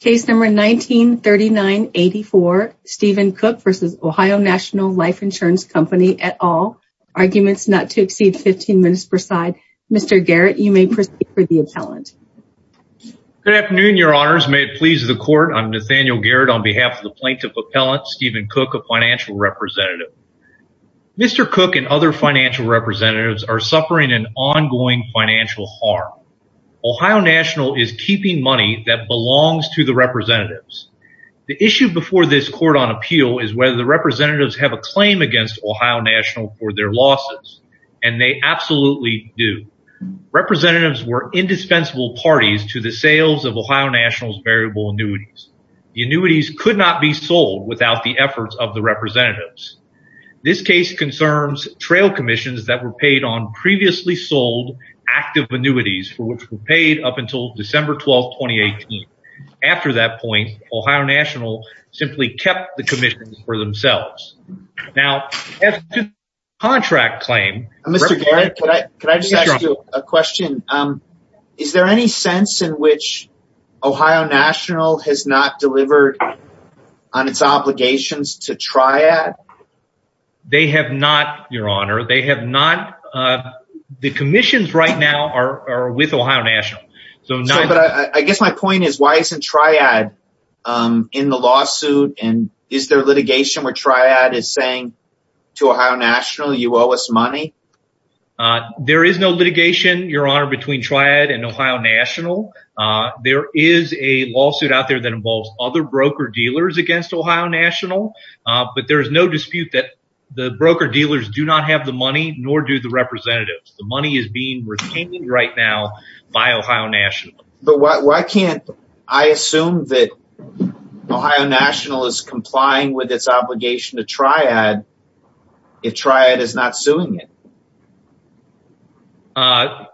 Case number 1939-84, Stephen Cook v. Ohio National Life Insurance Company et al. Arguments not to exceed 15 minutes per side. Mr. Garrett, you may proceed for the appellant. Good afternoon, your honors. May it please the court, I'm Nathaniel Garrett on behalf of the plaintiff appellant, Stephen Cook, a financial representative. Mr. Cook and other financial representatives are suffering an ongoing financial harm. Ohio National is keeping money that belongs to the representatives. The issue before this court on appeal is whether the representatives have a claim against Ohio National for their losses, and they absolutely do. Representatives were indispensable parties to the sales of Ohio National's variable annuities. The annuities could not be sold without the efforts of the representatives. This case concerns trail commissions that were paid on previously sold active annuities for which were paid up until December 12, 2018. After that point, Ohio National simply kept the commissions for themselves. Now, as to the contract claim... Mr. Garrett, could I just ask you a question? Is there any sense in which Ohio National has not delivered on its obligations to Triad? They have not, your honor. They have not. The commissions right now are with Ohio National, but I guess my point is why isn't Triad in the lawsuit, and is there litigation where Triad is saying to Ohio National, you owe us money? There is no litigation, your honor, between Triad and Ohio National. There is a lawsuit out there that involves other broker-dealers against Ohio National, but there is no dispute that the broker-dealers do not have the money, nor do the broker-dealers have the money to sue Ohio National. But why can't I assume that Ohio National is complying with its obligation to Triad if Triad is not suing it?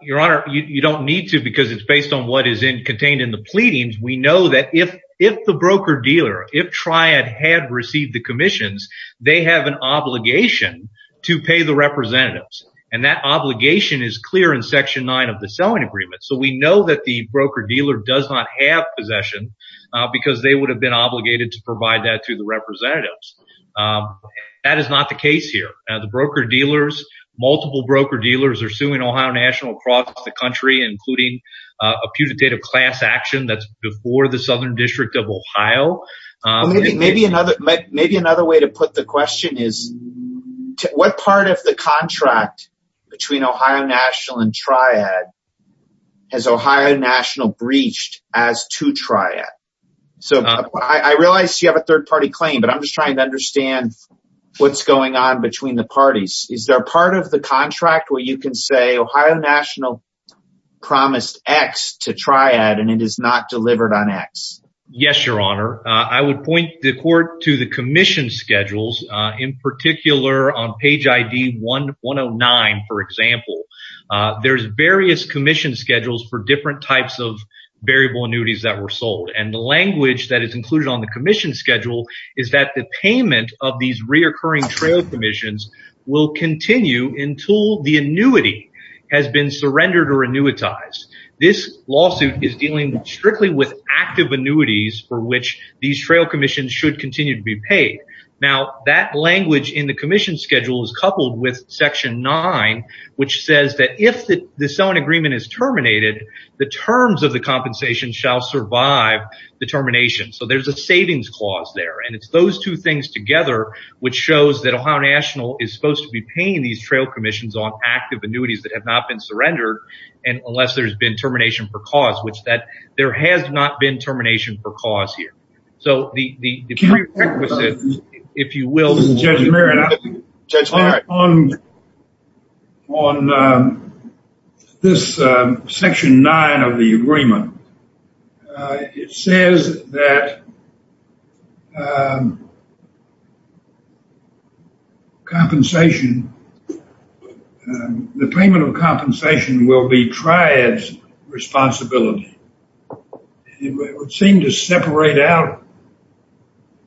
Your honor, you don't need to because it's based on what is in contained in the pleadings. We know that if the broker-dealer, if Triad had received the commissions, they have an obligation to pay the representatives, and that the broker-dealer does not have possession because they would have been obligated to provide that to the representatives. That is not the case here. The broker-dealers, multiple broker-dealers are suing Ohio National across the country, including a putative class action that's before the Southern District of Ohio. Maybe another way to put the question is, what part of the contract between Ohio National and Triad has Ohio National breached as to Triad? So, I realize you have a third-party claim, but I'm just trying to understand what's going on between the parties. Is there a part of the contract where you can say Ohio National promised X to Triad and it is not delivered on X? Yes, your honor. I would point the court to the commission schedules, in particular on page ID 109, for example. There's various commission schedules for different types of variable annuities that were sold, and the language that is included on the commission schedule is that the payment of these reoccurring trail commissions will continue until the annuity has been surrendered or annuitized. This lawsuit is dealing strictly with active annuities for which these trail commissions should continue to be paid. Now, that language in the commission schedule is coupled with section 9, which says that if this own agreement is terminated, the terms of the compensation shall survive the termination. So, there's a savings clause there, and it's those two things together which shows that Ohio National is supposed to be paying these trail commissions on active annuities that have not been surrendered, and unless there's been termination for cause, there has not been termination for cause here. So, the prerequisites, if you will. On this section 9 of the agreement, it says that the payment of compensation will be Triad's responsibility. It would seem to separate out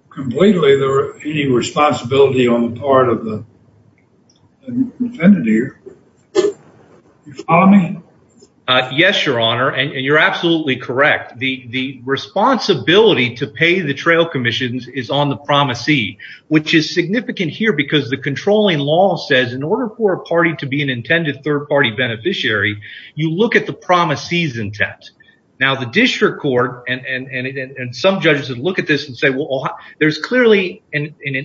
completely the responsibility on the part of the defendant here. You follow me? Yes, your honor, and you're absolutely correct. The responsibility to pay the trail commissions is on the promisee, which is significant here because the controlling law says in order for a party to be an intended third-party beneficiary, you look at the promisee's intent. Now, the district court and some judges would look at this and say, well, there's clearly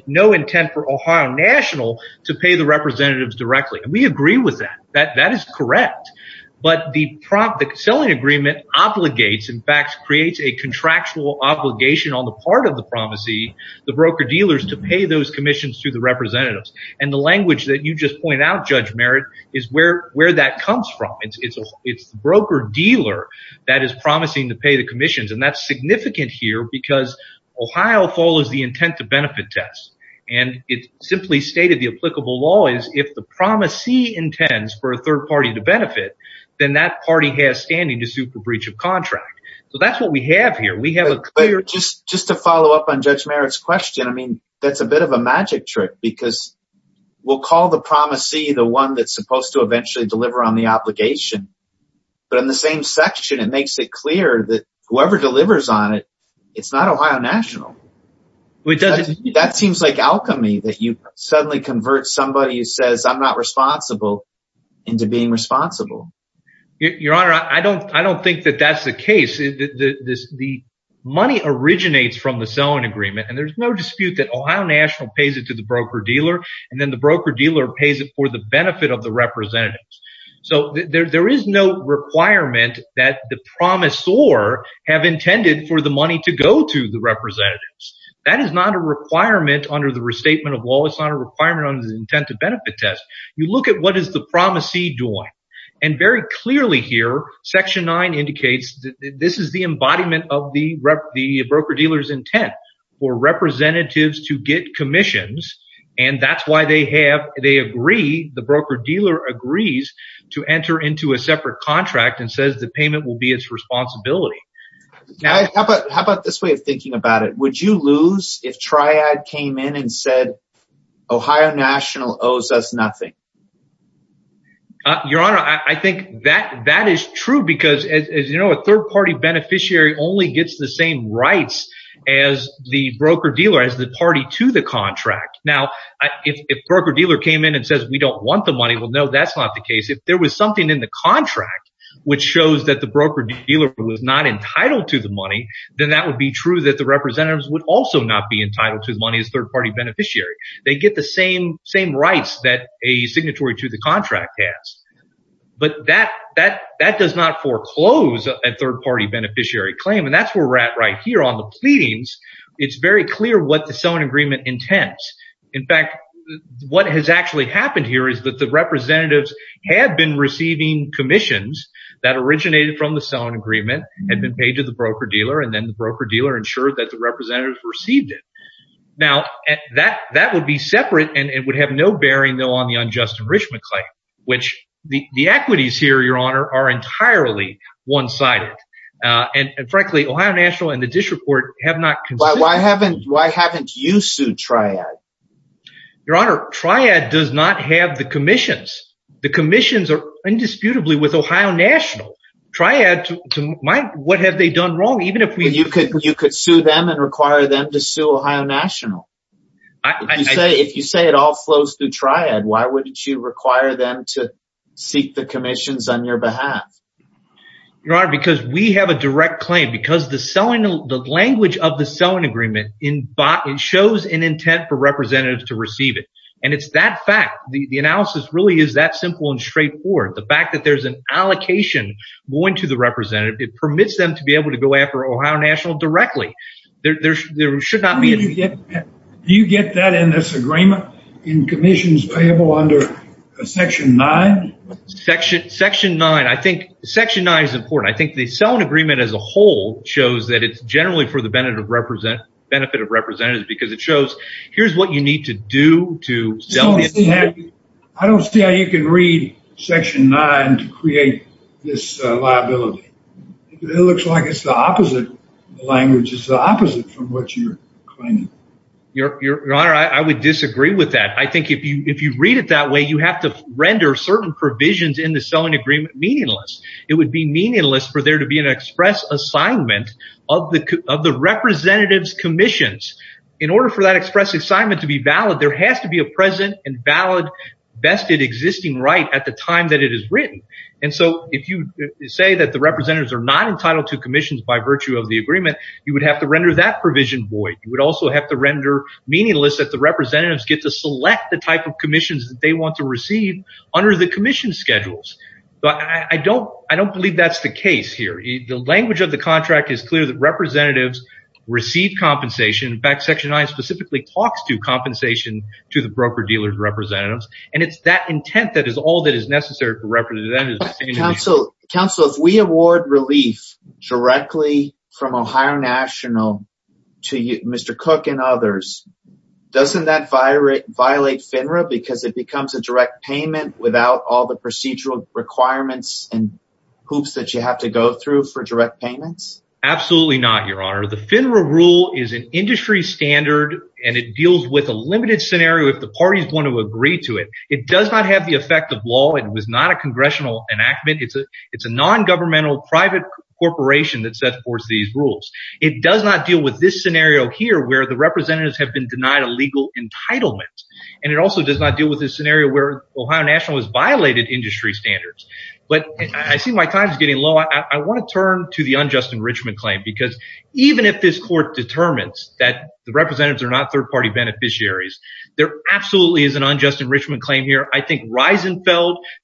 no intent for Ohio National to pay the representatives directly, and we agree with that. That is correct, but the selling agreement obligates, in fact creates a contractual obligation on the part of promisee, the broker-dealers to pay those commissions to the representatives, and the language that you just pointed out, Judge Merritt, is where that comes from. It's the broker-dealer that is promising to pay the commissions, and that's significant here because Ohio follows the intent to benefit test, and it simply stated the applicable law is if the promisee intends for a third party to benefit, then that party has standing to suit the breach of contract. So, we have a clear... Just to follow up on Judge Merritt's question, I mean, that's a bit of a magic trick because we'll call the promisee the one that's supposed to eventually deliver on the obligation, but in the same section, it makes it clear that whoever delivers on it, it's not Ohio National. That seems like alchemy that you suddenly convert somebody who says I'm not responsible into being responsible. Your Honor, I don't think that that's the case. The money originates from the selling agreement, and there's no dispute that Ohio National pays it to the broker-dealer, and then the broker-dealer pays it for the benefit of the representatives. So, there is no requirement that the promisor have intended for the money to go to the representatives. That is not a requirement under the restatement of law. It's not a requirement under the intent to benefit test. You look at what is the promisee doing, and very clearly here, Section 9 indicates that this is the embodiment of the broker-dealer's intent for representatives to get commissions, and that's why they agree, the broker-dealer agrees to enter into a separate contract and says the payment will be its responsibility. How about this way of thinking about it? Would you lose if Triad came in and said Ohio National owes us nothing? Your Honor, I think that that is true because, as you know, a third-party beneficiary only gets the same rights as the broker-dealer, as the party to the contract. Now, if broker-dealer came in and says we don't want the money, well, no, that's not the case. If there was something in the contract which shows that the broker-dealer was not entitled to the money, then that would be true that the representatives would also not be entitled to the money as third-party beneficiary. They get the same rights that a signatory to the contract has, but that does not foreclose a third-party beneficiary claim, and that's where we're at right here on the pleadings. It's very clear what the selling agreement intends. In fact, what has actually happened here is that the representatives had been receiving commissions that originated from the selling agreement, had been paid to the broker-dealer, and then the broker-dealer ensured that the representatives received it. Now, that would be separate, and it would have no bearing, though, on the unjust enrichment claim, which the equities here, Your Honor, are entirely one-sided, and frankly, Ohio National and the Dish Report have not considered— Why haven't you sued Triad? Your Honor, Triad does not have the commissions. The commissions are what have they done wrong, even if we— You could sue them and require them to sue Ohio National. If you say it all flows through Triad, why wouldn't you require them to seek the commissions on your behalf? Your Honor, because we have a direct claim, because the language of the selling agreement shows an intent for representatives to receive it, and it's that fact. The analysis really is that simple and straightforward. The fact that there's an allocation going to the representative, it permits them to be able to go after Ohio National directly. There should not be— Do you get that in this agreement, in commissions payable under Section 9? Section 9. I think Section 9 is important. I think the selling agreement as a whole shows that it's generally for the benefit of representatives because it shows, here's what you need to do to— I don't see how you can read Section 9 to create this liability. It looks like it's the opposite language. It's the opposite from what you're claiming. Your Honor, I would disagree with that. I think if you read it that way, you have to render certain provisions in the selling agreement meaningless. It would be meaningless for there to be an express assignment of the representative's commissions. In order for that express assignment to be valid, there has to be a present and valid vested existing right at the title to commissions by virtue of the agreement. You would have to render that provision void. You would also have to render meaningless that the representatives get to select the type of commissions that they want to receive under the commission schedules. I don't believe that's the case here. The language of the contract is clear that representatives receive compensation. In fact, Section 9 specifically talks to compensation to the broker-dealer's representatives. It's that intent that is all that is necessary for representatives. Counsel, if we award relief directly from Ohio National to Mr. Cook and others, doesn't that violate FINRA because it becomes a direct payment without all the procedural requirements and hoops that you have to go through for direct payments? Absolutely not, Your Honor. The FINRA rule is an industry standard and it deals with a limited scenario if the party is going to agree to it. It does not have the effect of law. It was not congressional enactment. It's a non-governmental private corporation that sets forth these rules. It does not deal with this scenario here where the representatives have been denied a legal entitlement. It also does not deal with this scenario where Ohio National has violated industry standards. I see my time is getting low. I want to turn to the unjust enrichment claim because even if this court determines that the representatives are not third-party beneficiaries, there absolutely is an unjust enrichment claim here. I think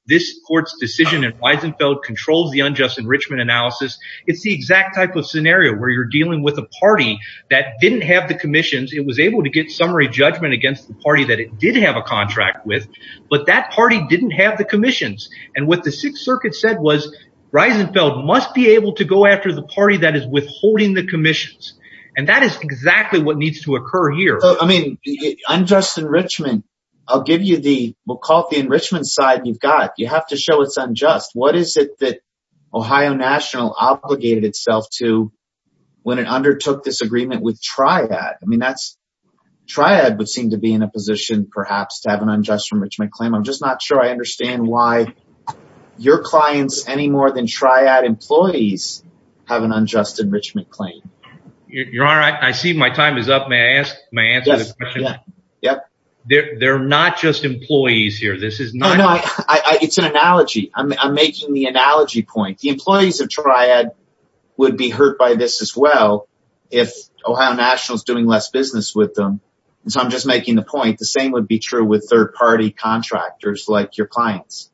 this court's decision in Reisenfeld controls the unjust enrichment analysis. It's the exact type of scenario where you're dealing with a party that didn't have the commissions. It was able to get summary judgment against the party that it did have a contract with, but that party didn't have the commissions. What the Sixth Circuit said was that Reisenfeld must be able to go after the party that is withholding the unjust enrichment. We'll call it the enrichment side you've got. You have to show it's unjust. What is it that Ohio National obligated itself to when it undertook this agreement with Triad? Triad would seem to be in a position, perhaps, to have an unjust enrichment claim. I'm just not sure I understand why your clients, any more than Triad employees, have an unjust enrichment claim. Your Honor, I see my time is up. May I answer the question? They're not just employees here. It's an analogy. I'm making the analogy point. The employees of Triad would be hurt by this as well if Ohio National is doing less business with them. I'm just making the point. The same would be true with third-party contractors like your clients.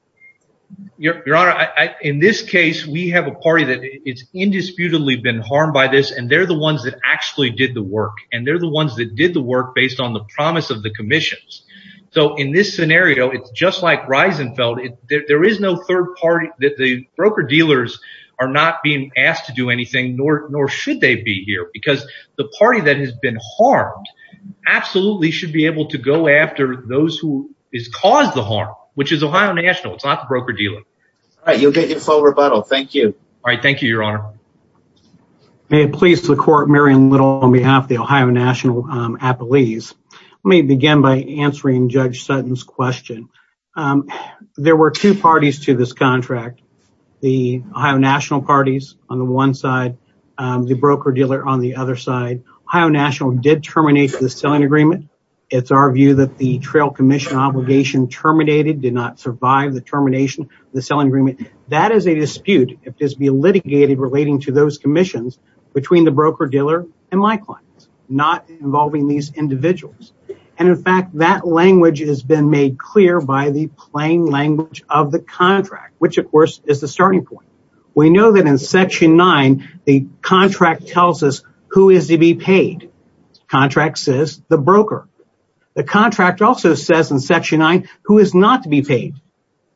Your Honor, in this case, we have a party that has indisputably been harmed by this. They're the ones that actually did the work. They're the ones that did the work based on the promise of the commissions. In this scenario, it's just like Reisenfeld. There is no third party. The broker dealers are not being asked to do anything, nor should they be here because the party that has been harmed absolutely should be able to go after those who have caused the harm, which is Ohio National. It's not the broker dealer. All right. You'll get your full rebuttal. Thank you. All right. Thank you, Your Honor. May it please the court, Marion Little, on behalf of the Ohio National appellees. Let me begin by answering Judge Sutton's question. There were two parties to this contract, the Ohio National parties on the one side, the broker dealer on the other side. Ohio National did terminate the selling agreement. It's our view that the trail commission obligation terminated, did not survive the termination of the selling agreement. That is a dispute. It has been litigated relating to those commissions between the broker dealer and my clients, not involving these individuals. In fact, that language has been made clear by the plain language of the contract, which, of course, is the starting point. We know that in Section 9, the contract tells us who is to be paid. Contract says the broker. The contract also says in Section 9 who is not to be paid,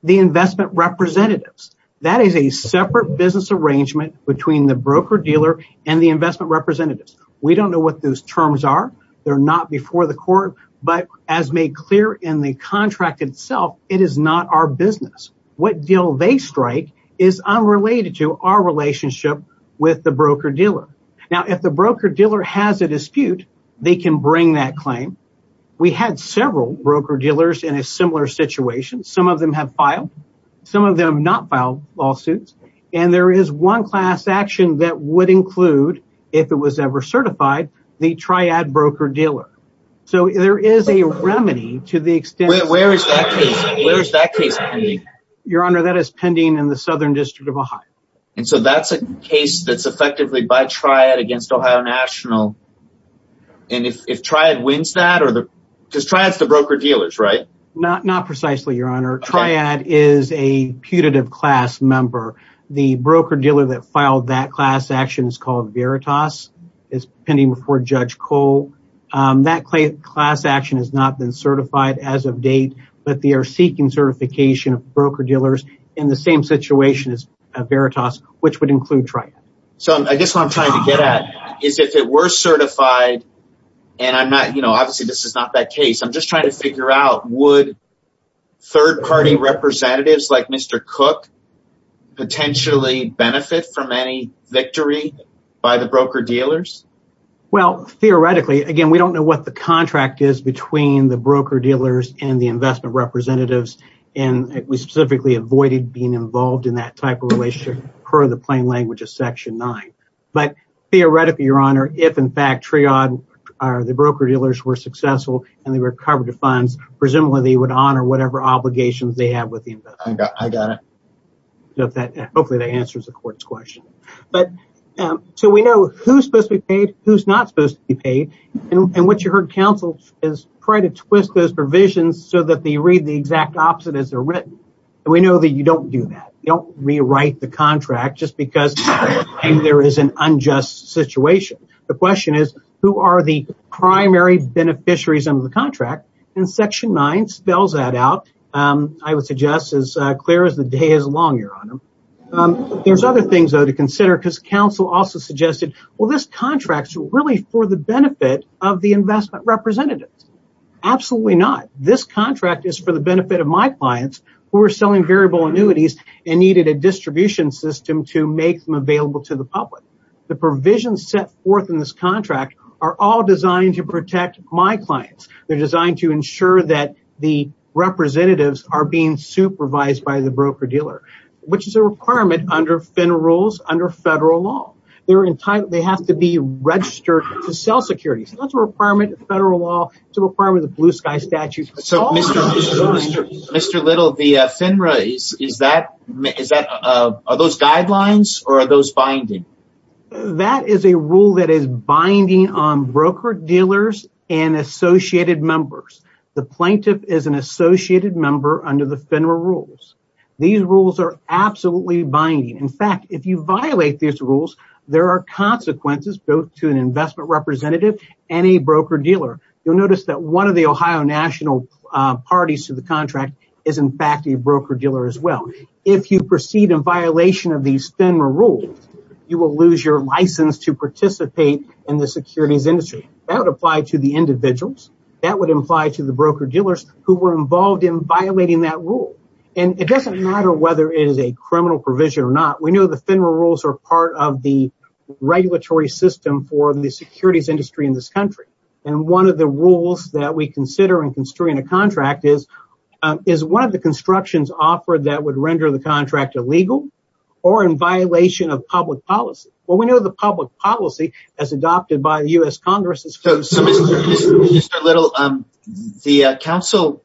the investment representatives. That is a separate business arrangement between the broker dealer and the investment representatives. We don't know what those terms are. They're not before the court, but as made clear in the contract itself, it is not our business. What deal they strike is a dispute. They can bring that claim. We had several broker dealers in a similar situation. Some of them have filed. Some of them have not filed lawsuits. There is one class action that would include, if it was ever certified, the triad broker dealer. There is a remedy to the extent... Where is that case pending? Your Honor, that is pending in the Southern District of Ohio. That is a case that is effectively by triad against Ohio National. If triad wins that... Triad is the broker dealers, right? Not precisely, Your Honor. Triad is a putative class member. The broker dealer that filed that class action is called Veritas. It is pending before Judge Cole. That class action has not been certified as of date, but they are seeking certification of broker dealers in the same situation as Veritas, which would include triad. I guess what I'm trying to get at is if it were certified... Obviously, this is not that case. I'm just trying to figure out, would third-party representatives like Mr. Cook potentially benefit from any victory by the broker dealers? Theoretically, again, we don't know what the contract is between the broker dealers and the type of relationship per the plain language of Section 9. Theoretically, Your Honor, if in fact triad or the broker dealers were successful and they recovered the funds, presumably, they would honor whatever obligations they have with the investor. I got it. Hopefully, that answers the court's question. We know who is supposed to be paid, who is not supposed to be paid. What you heard counseled is try to twist those provisions so that they read the exact opposite as they are You don't rewrite the contract just because there is an unjust situation. The question is, who are the primary beneficiaries of the contract? Section 9 spells that out. I would suggest as clear as the day is long, Your Honor. There are other things to consider because counsel also suggested, this contract is really for the benefit of the investment representatives. Absolutely not. This contract is for the benefit of my clients who are selling variable annuities and needed a distribution system to make them available to the public. The provisions set forth in this contract are all designed to protect my clients. They are designed to ensure that the representatives are being supervised by the broker dealer, which is a requirement under FINRA rules, under federal law. They have to be registered to sell securities. That is a requirement of federal law. It is a requirement of the Blue Sky Statute. So, Mr. Little, the FINRA, are those guidelines or are those binding? That is a rule that is binding on broker dealers and associated members. The plaintiff is an associated member under the FINRA rules. These rules are absolutely binding. In fact, if you violate these rules, there are consequences both to an investment representative and a broker dealer. You will notice that one of the Ohio national parties to the contract is, in fact, a broker dealer as well. If you proceed in violation of these FINRA rules, you will lose your license to participate in the securities industry. That would apply to the individuals. That would apply to the broker dealers who were involved in violating that rule. It does not matter whether it is a criminal provision or not. We know the FINRA rules are part of the regulatory system for the securities industry in this country. One of the rules that we consider in construing a contract is one of the constructions offered that would render the contract illegal or in violation of public policy. We know the public policy as adopted by the U.S. Congress. Mr. Little, the Council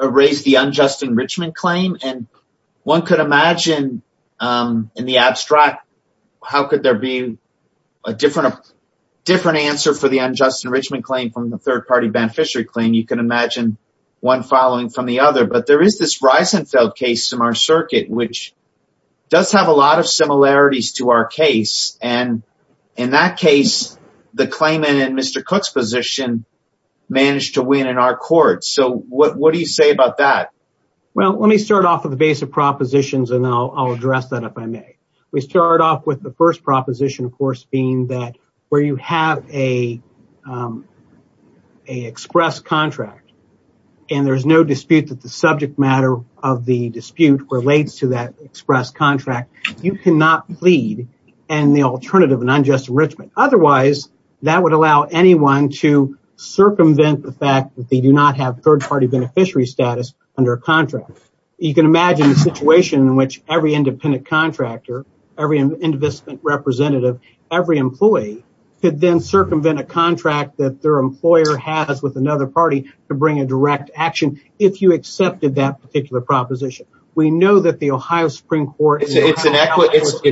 raised the unjust enrichment claim. One could imagine, in the abstract, how could there be a different answer for the unjust enrichment claim from the third-party beneficiary claim. You can imagine one following from the other. There is this Reisenfeld case in our circuit, which does have a lot of similarities to our case. In that case, the claimant in Mr. Cook's position managed to win in our court. What do you say about that? Let me start off with a base of propositions. I will address that if I may. We start off with the first proposition, of course, being that where you have an express contract, and there is no dispute that the subject matter of the dispute relates to that express contract, you cannot plead in the alternative of an unjust enrichment. Otherwise, that would allow anyone to contract. You can imagine the situation in which every independent contractor, every investment representative, and every employee could then circumvent a contract that their employer has with another party to bring a direct action if you accepted that particular proposition. We know that the Ohio Supreme Court— It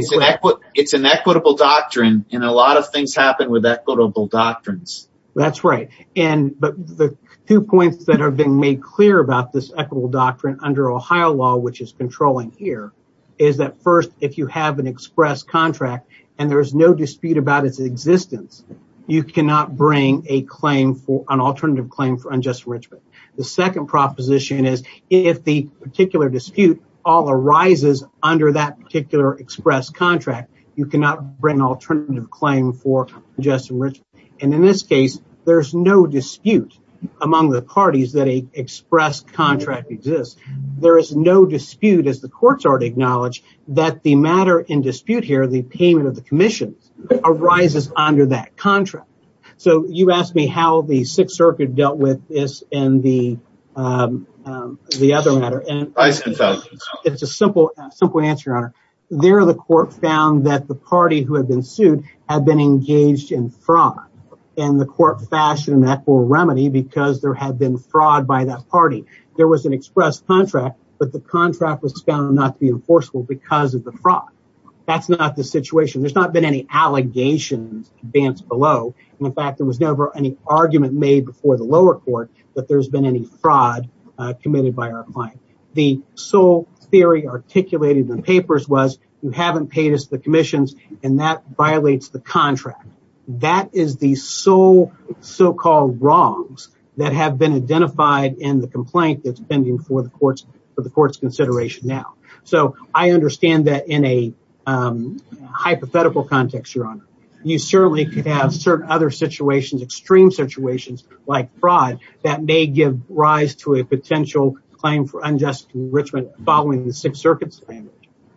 is an equitable doctrine, and a lot of things happen with equitable doctrines. That is right. The two points that have been made clear about this equitable doctrine under Ohio law, which is controlling here, is that first, if you have an express contract and there is no dispute about its existence, you cannot bring an alternative claim for unjust enrichment. The second proposition is, if the particular dispute arises under that particular express contract, you cannot bring an alternative claim for unjust enrichment. In this case, there is no dispute among the parties that an express contract exists. There is no dispute, as the courts already acknowledge, that the matter in dispute here, the payment of the commission, arises under that contract. You asked me how the Sixth Circuit dealt with this and the other matter. It is a simple answer, Your Honor. There, the court found that the party who had been sued had been engaged in fraud, and the court fashioned that for remedy because there had been fraud by that party. There was an express contract, but the contract was found not to be enforceable because of the fraud. That is not the situation. There has not been any allegations advanced below. In fact, there was never any argument made before the lower court that there has been any fraud committed by our client. The sole theory articulated in the papers was, you have not paid us the commissions, and that violates the contract. That is the sole so-called wrongs that have been identified in the complaint that is pending for the court's consideration now. I understand that in a hypothetical context, Your Honor. You certainly could have certain other situations, extreme situations like fraud, that may give rise to a potential claim for unjust enrichment following the Sixth Circuit's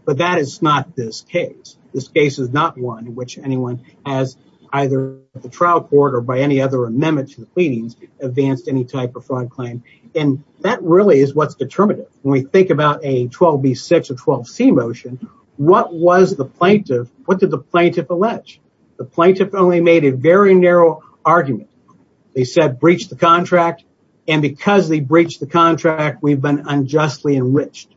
But that is not this case. This case is not one in which anyone has, either the trial court or by any other amendment to the pleadings, advanced any type of fraud claim. That really is what is determinative. When we think about a 12B6 or 12C motion, what did the plaintiff allege? The plaintiff only made a very narrow argument. They said, breach the contract, and because they breached the contract, we have been unjustly enriched.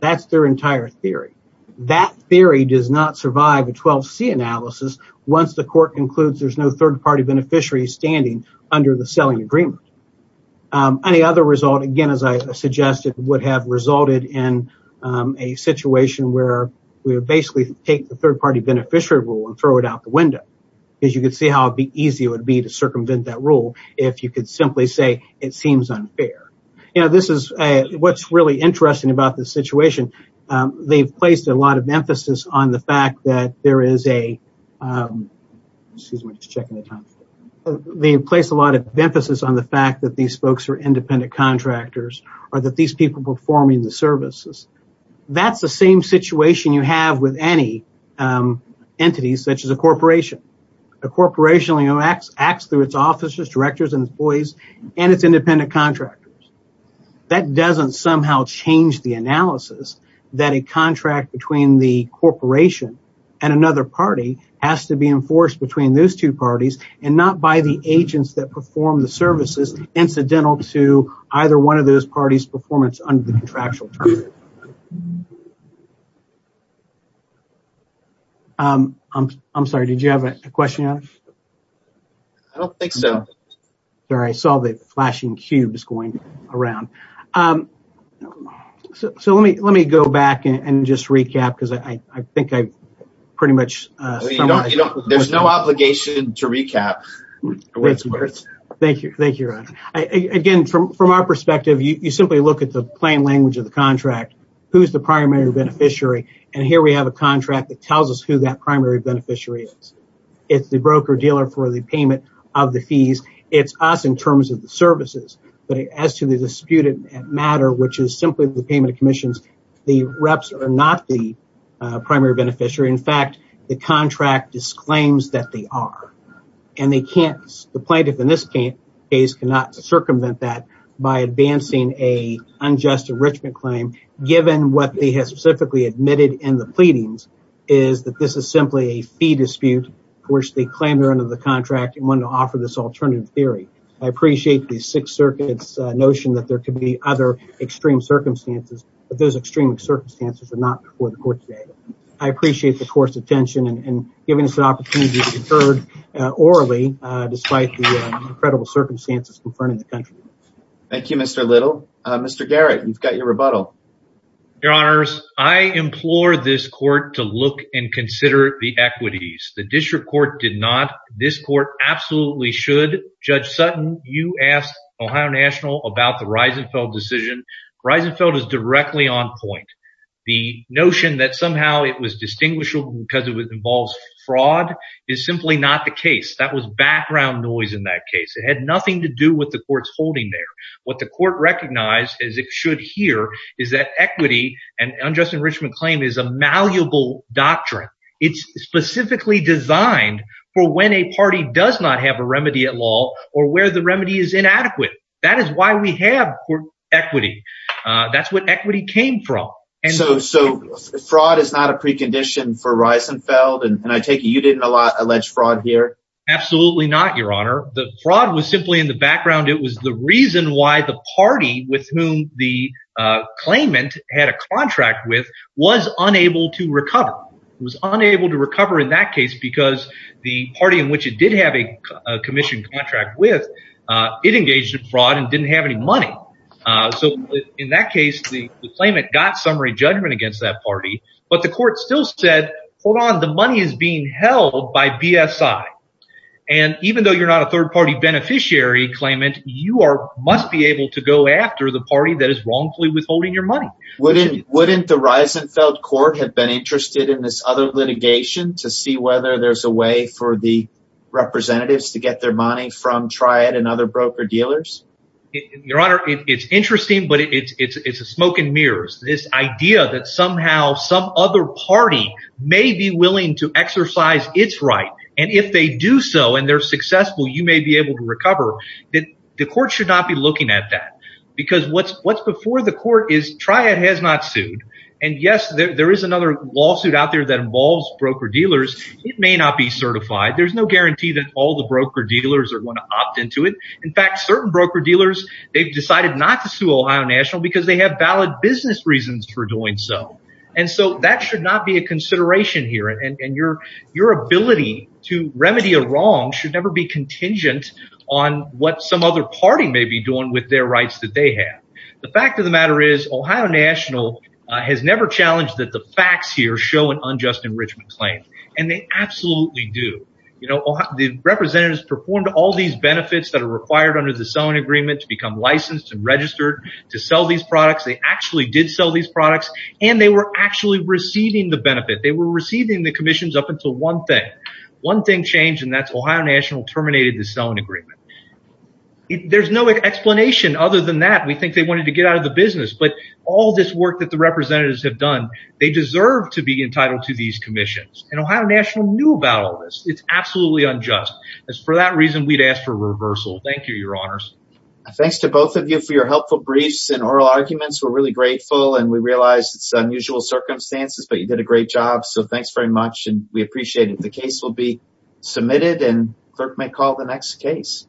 That is their entire theory. That theory does not survive a 12C analysis once the court concludes there is no third-party beneficiary standing under the selling agreement. Any other result, again, as I suggested, would have resulted in a situation where we would basically take the third-party beneficiary rule and throw it out the window. You can see how easy it would be to seem unfair. What is really interesting about this situation, they placed a lot of emphasis on the fact that these folks are independent contractors, or that these people are performing the services. That is the same situation you have with any entity such as a corporation. A corporation acts through its officers, directors, employees, and its independent contractors. That does not somehow change the analysis that a contract between the corporation and another party has to be enforced between those two parties and not by the agents that perform the services incidental to either one of those parties' performance under the contractual agreement. I am sorry, did you have a question? I do not think so. I saw the flashing cubes going around. Let me go back and just recap. There is no obligation to recap. Thank you, Ron. Again, from our perspective, you simply look at the plain language of the contract. Who is the primary beneficiary? Here we have a contract that tells us who that primary beneficiary is. It is the broker-dealer for the payment of the fees. It is us in terms of the services. As to the disputed matter, which is simply the payment of commissions, the reps are not the primary beneficiary. In fact, the contract disclaims that they are. The plaintiff in this case cannot circumvent that by advancing an unjust enrichment claim given what they have specifically admitted in the pleadings is that this is simply a fee dispute, which they claim they are under the contract and want to offer this alternative theory. I appreciate the Sixth Circuit's notion that there could be other extreme circumstances, but those extreme circumstances are not before the court today. I appreciate the court's attention in giving us an opportunity to be heard orally despite the incredible circumstances concerning the country. Thank you, Mr. Little. Mr. Garrett, you've got your rebuttal. Your Honors, I implore this court to look and consider the equities. The district court did not. This court absolutely should. Judge Sutton, you asked Ohio National about the Reisenfeld decision. Reisenfeld is directly on point. The notion that somehow it was distinguishable because it involves fraud is simply not the case. That was background noise in that case. It had nothing to do with the court's holding there. What the court recognized, as it should here, is that equity and unjust enrichment claim is a malleable doctrine. It's specifically designed for when a party does not have a remedy at law or where the remedy is inadequate. That is we have for equity. That's what equity came from. Fraud is not a precondition for Reisenfeld, and I take it you didn't allege fraud here? Absolutely not, Your Honor. The fraud was simply in the background. It was the reason why the party with whom the claimant had a contract with was unable to recover. It was unable to recover in that case because the party in which it did have a commission contract with, it engaged in fraud and didn't have any money. In that case, the claimant got summary judgment against that party, but the court still said, hold on, the money is being held by BSI. Even though you're not a third party beneficiary claimant, you must be able to go after the party that is wrongfully withholding your money. Wouldn't the Reisenfeld court have been interested in this other litigation to see whether there's a way for the representatives to get their money from Triad and other broker dealers? Your Honor, it's interesting, but it's a smoke and mirrors. This idea that somehow some other party may be willing to exercise its right, and if they do so and they're successful, you may be able to recover. The court should not be looking at that because what's before the court is Triad has not sued, and yes, there is another lawsuit out there that involves broker dealers. It may not be certified. There's no guarantee that all the broker dealers are going to opt into it. In fact, certain broker dealers, they've decided not to sue Ohio National because they have valid business reasons for doing so, and so that should not be a consideration here, and your ability to remedy a wrong should never be contingent on what some other party may be doing with their rights that they have. The fact of the matter is Ohio National has never challenged that the facts here show an unjust enrichment claim, and they absolutely do. The representatives performed all these benefits that are required under the selling agreement to become licensed and registered to sell these products. They actually did sell these products, and they were actually receiving the benefit. They were receiving the commissions up until one thing. One thing changed, and that's Ohio National terminated the selling agreement. There's no explanation other than that. We think they wanted to get out of the business, but all this work that the representatives have done, they deserve to be entitled to these commissions, and Ohio National knew about all this. It's absolutely unjust. For that reason, we'd ask for reversal. Thank you, your honors. Thanks to both of you for your helpful briefs and oral arguments. We're really grateful, and we realize it's unusual circumstances, but you did a great job, so thanks very much, and we appreciate it. The case will be submitted, and the clerk may call the next case.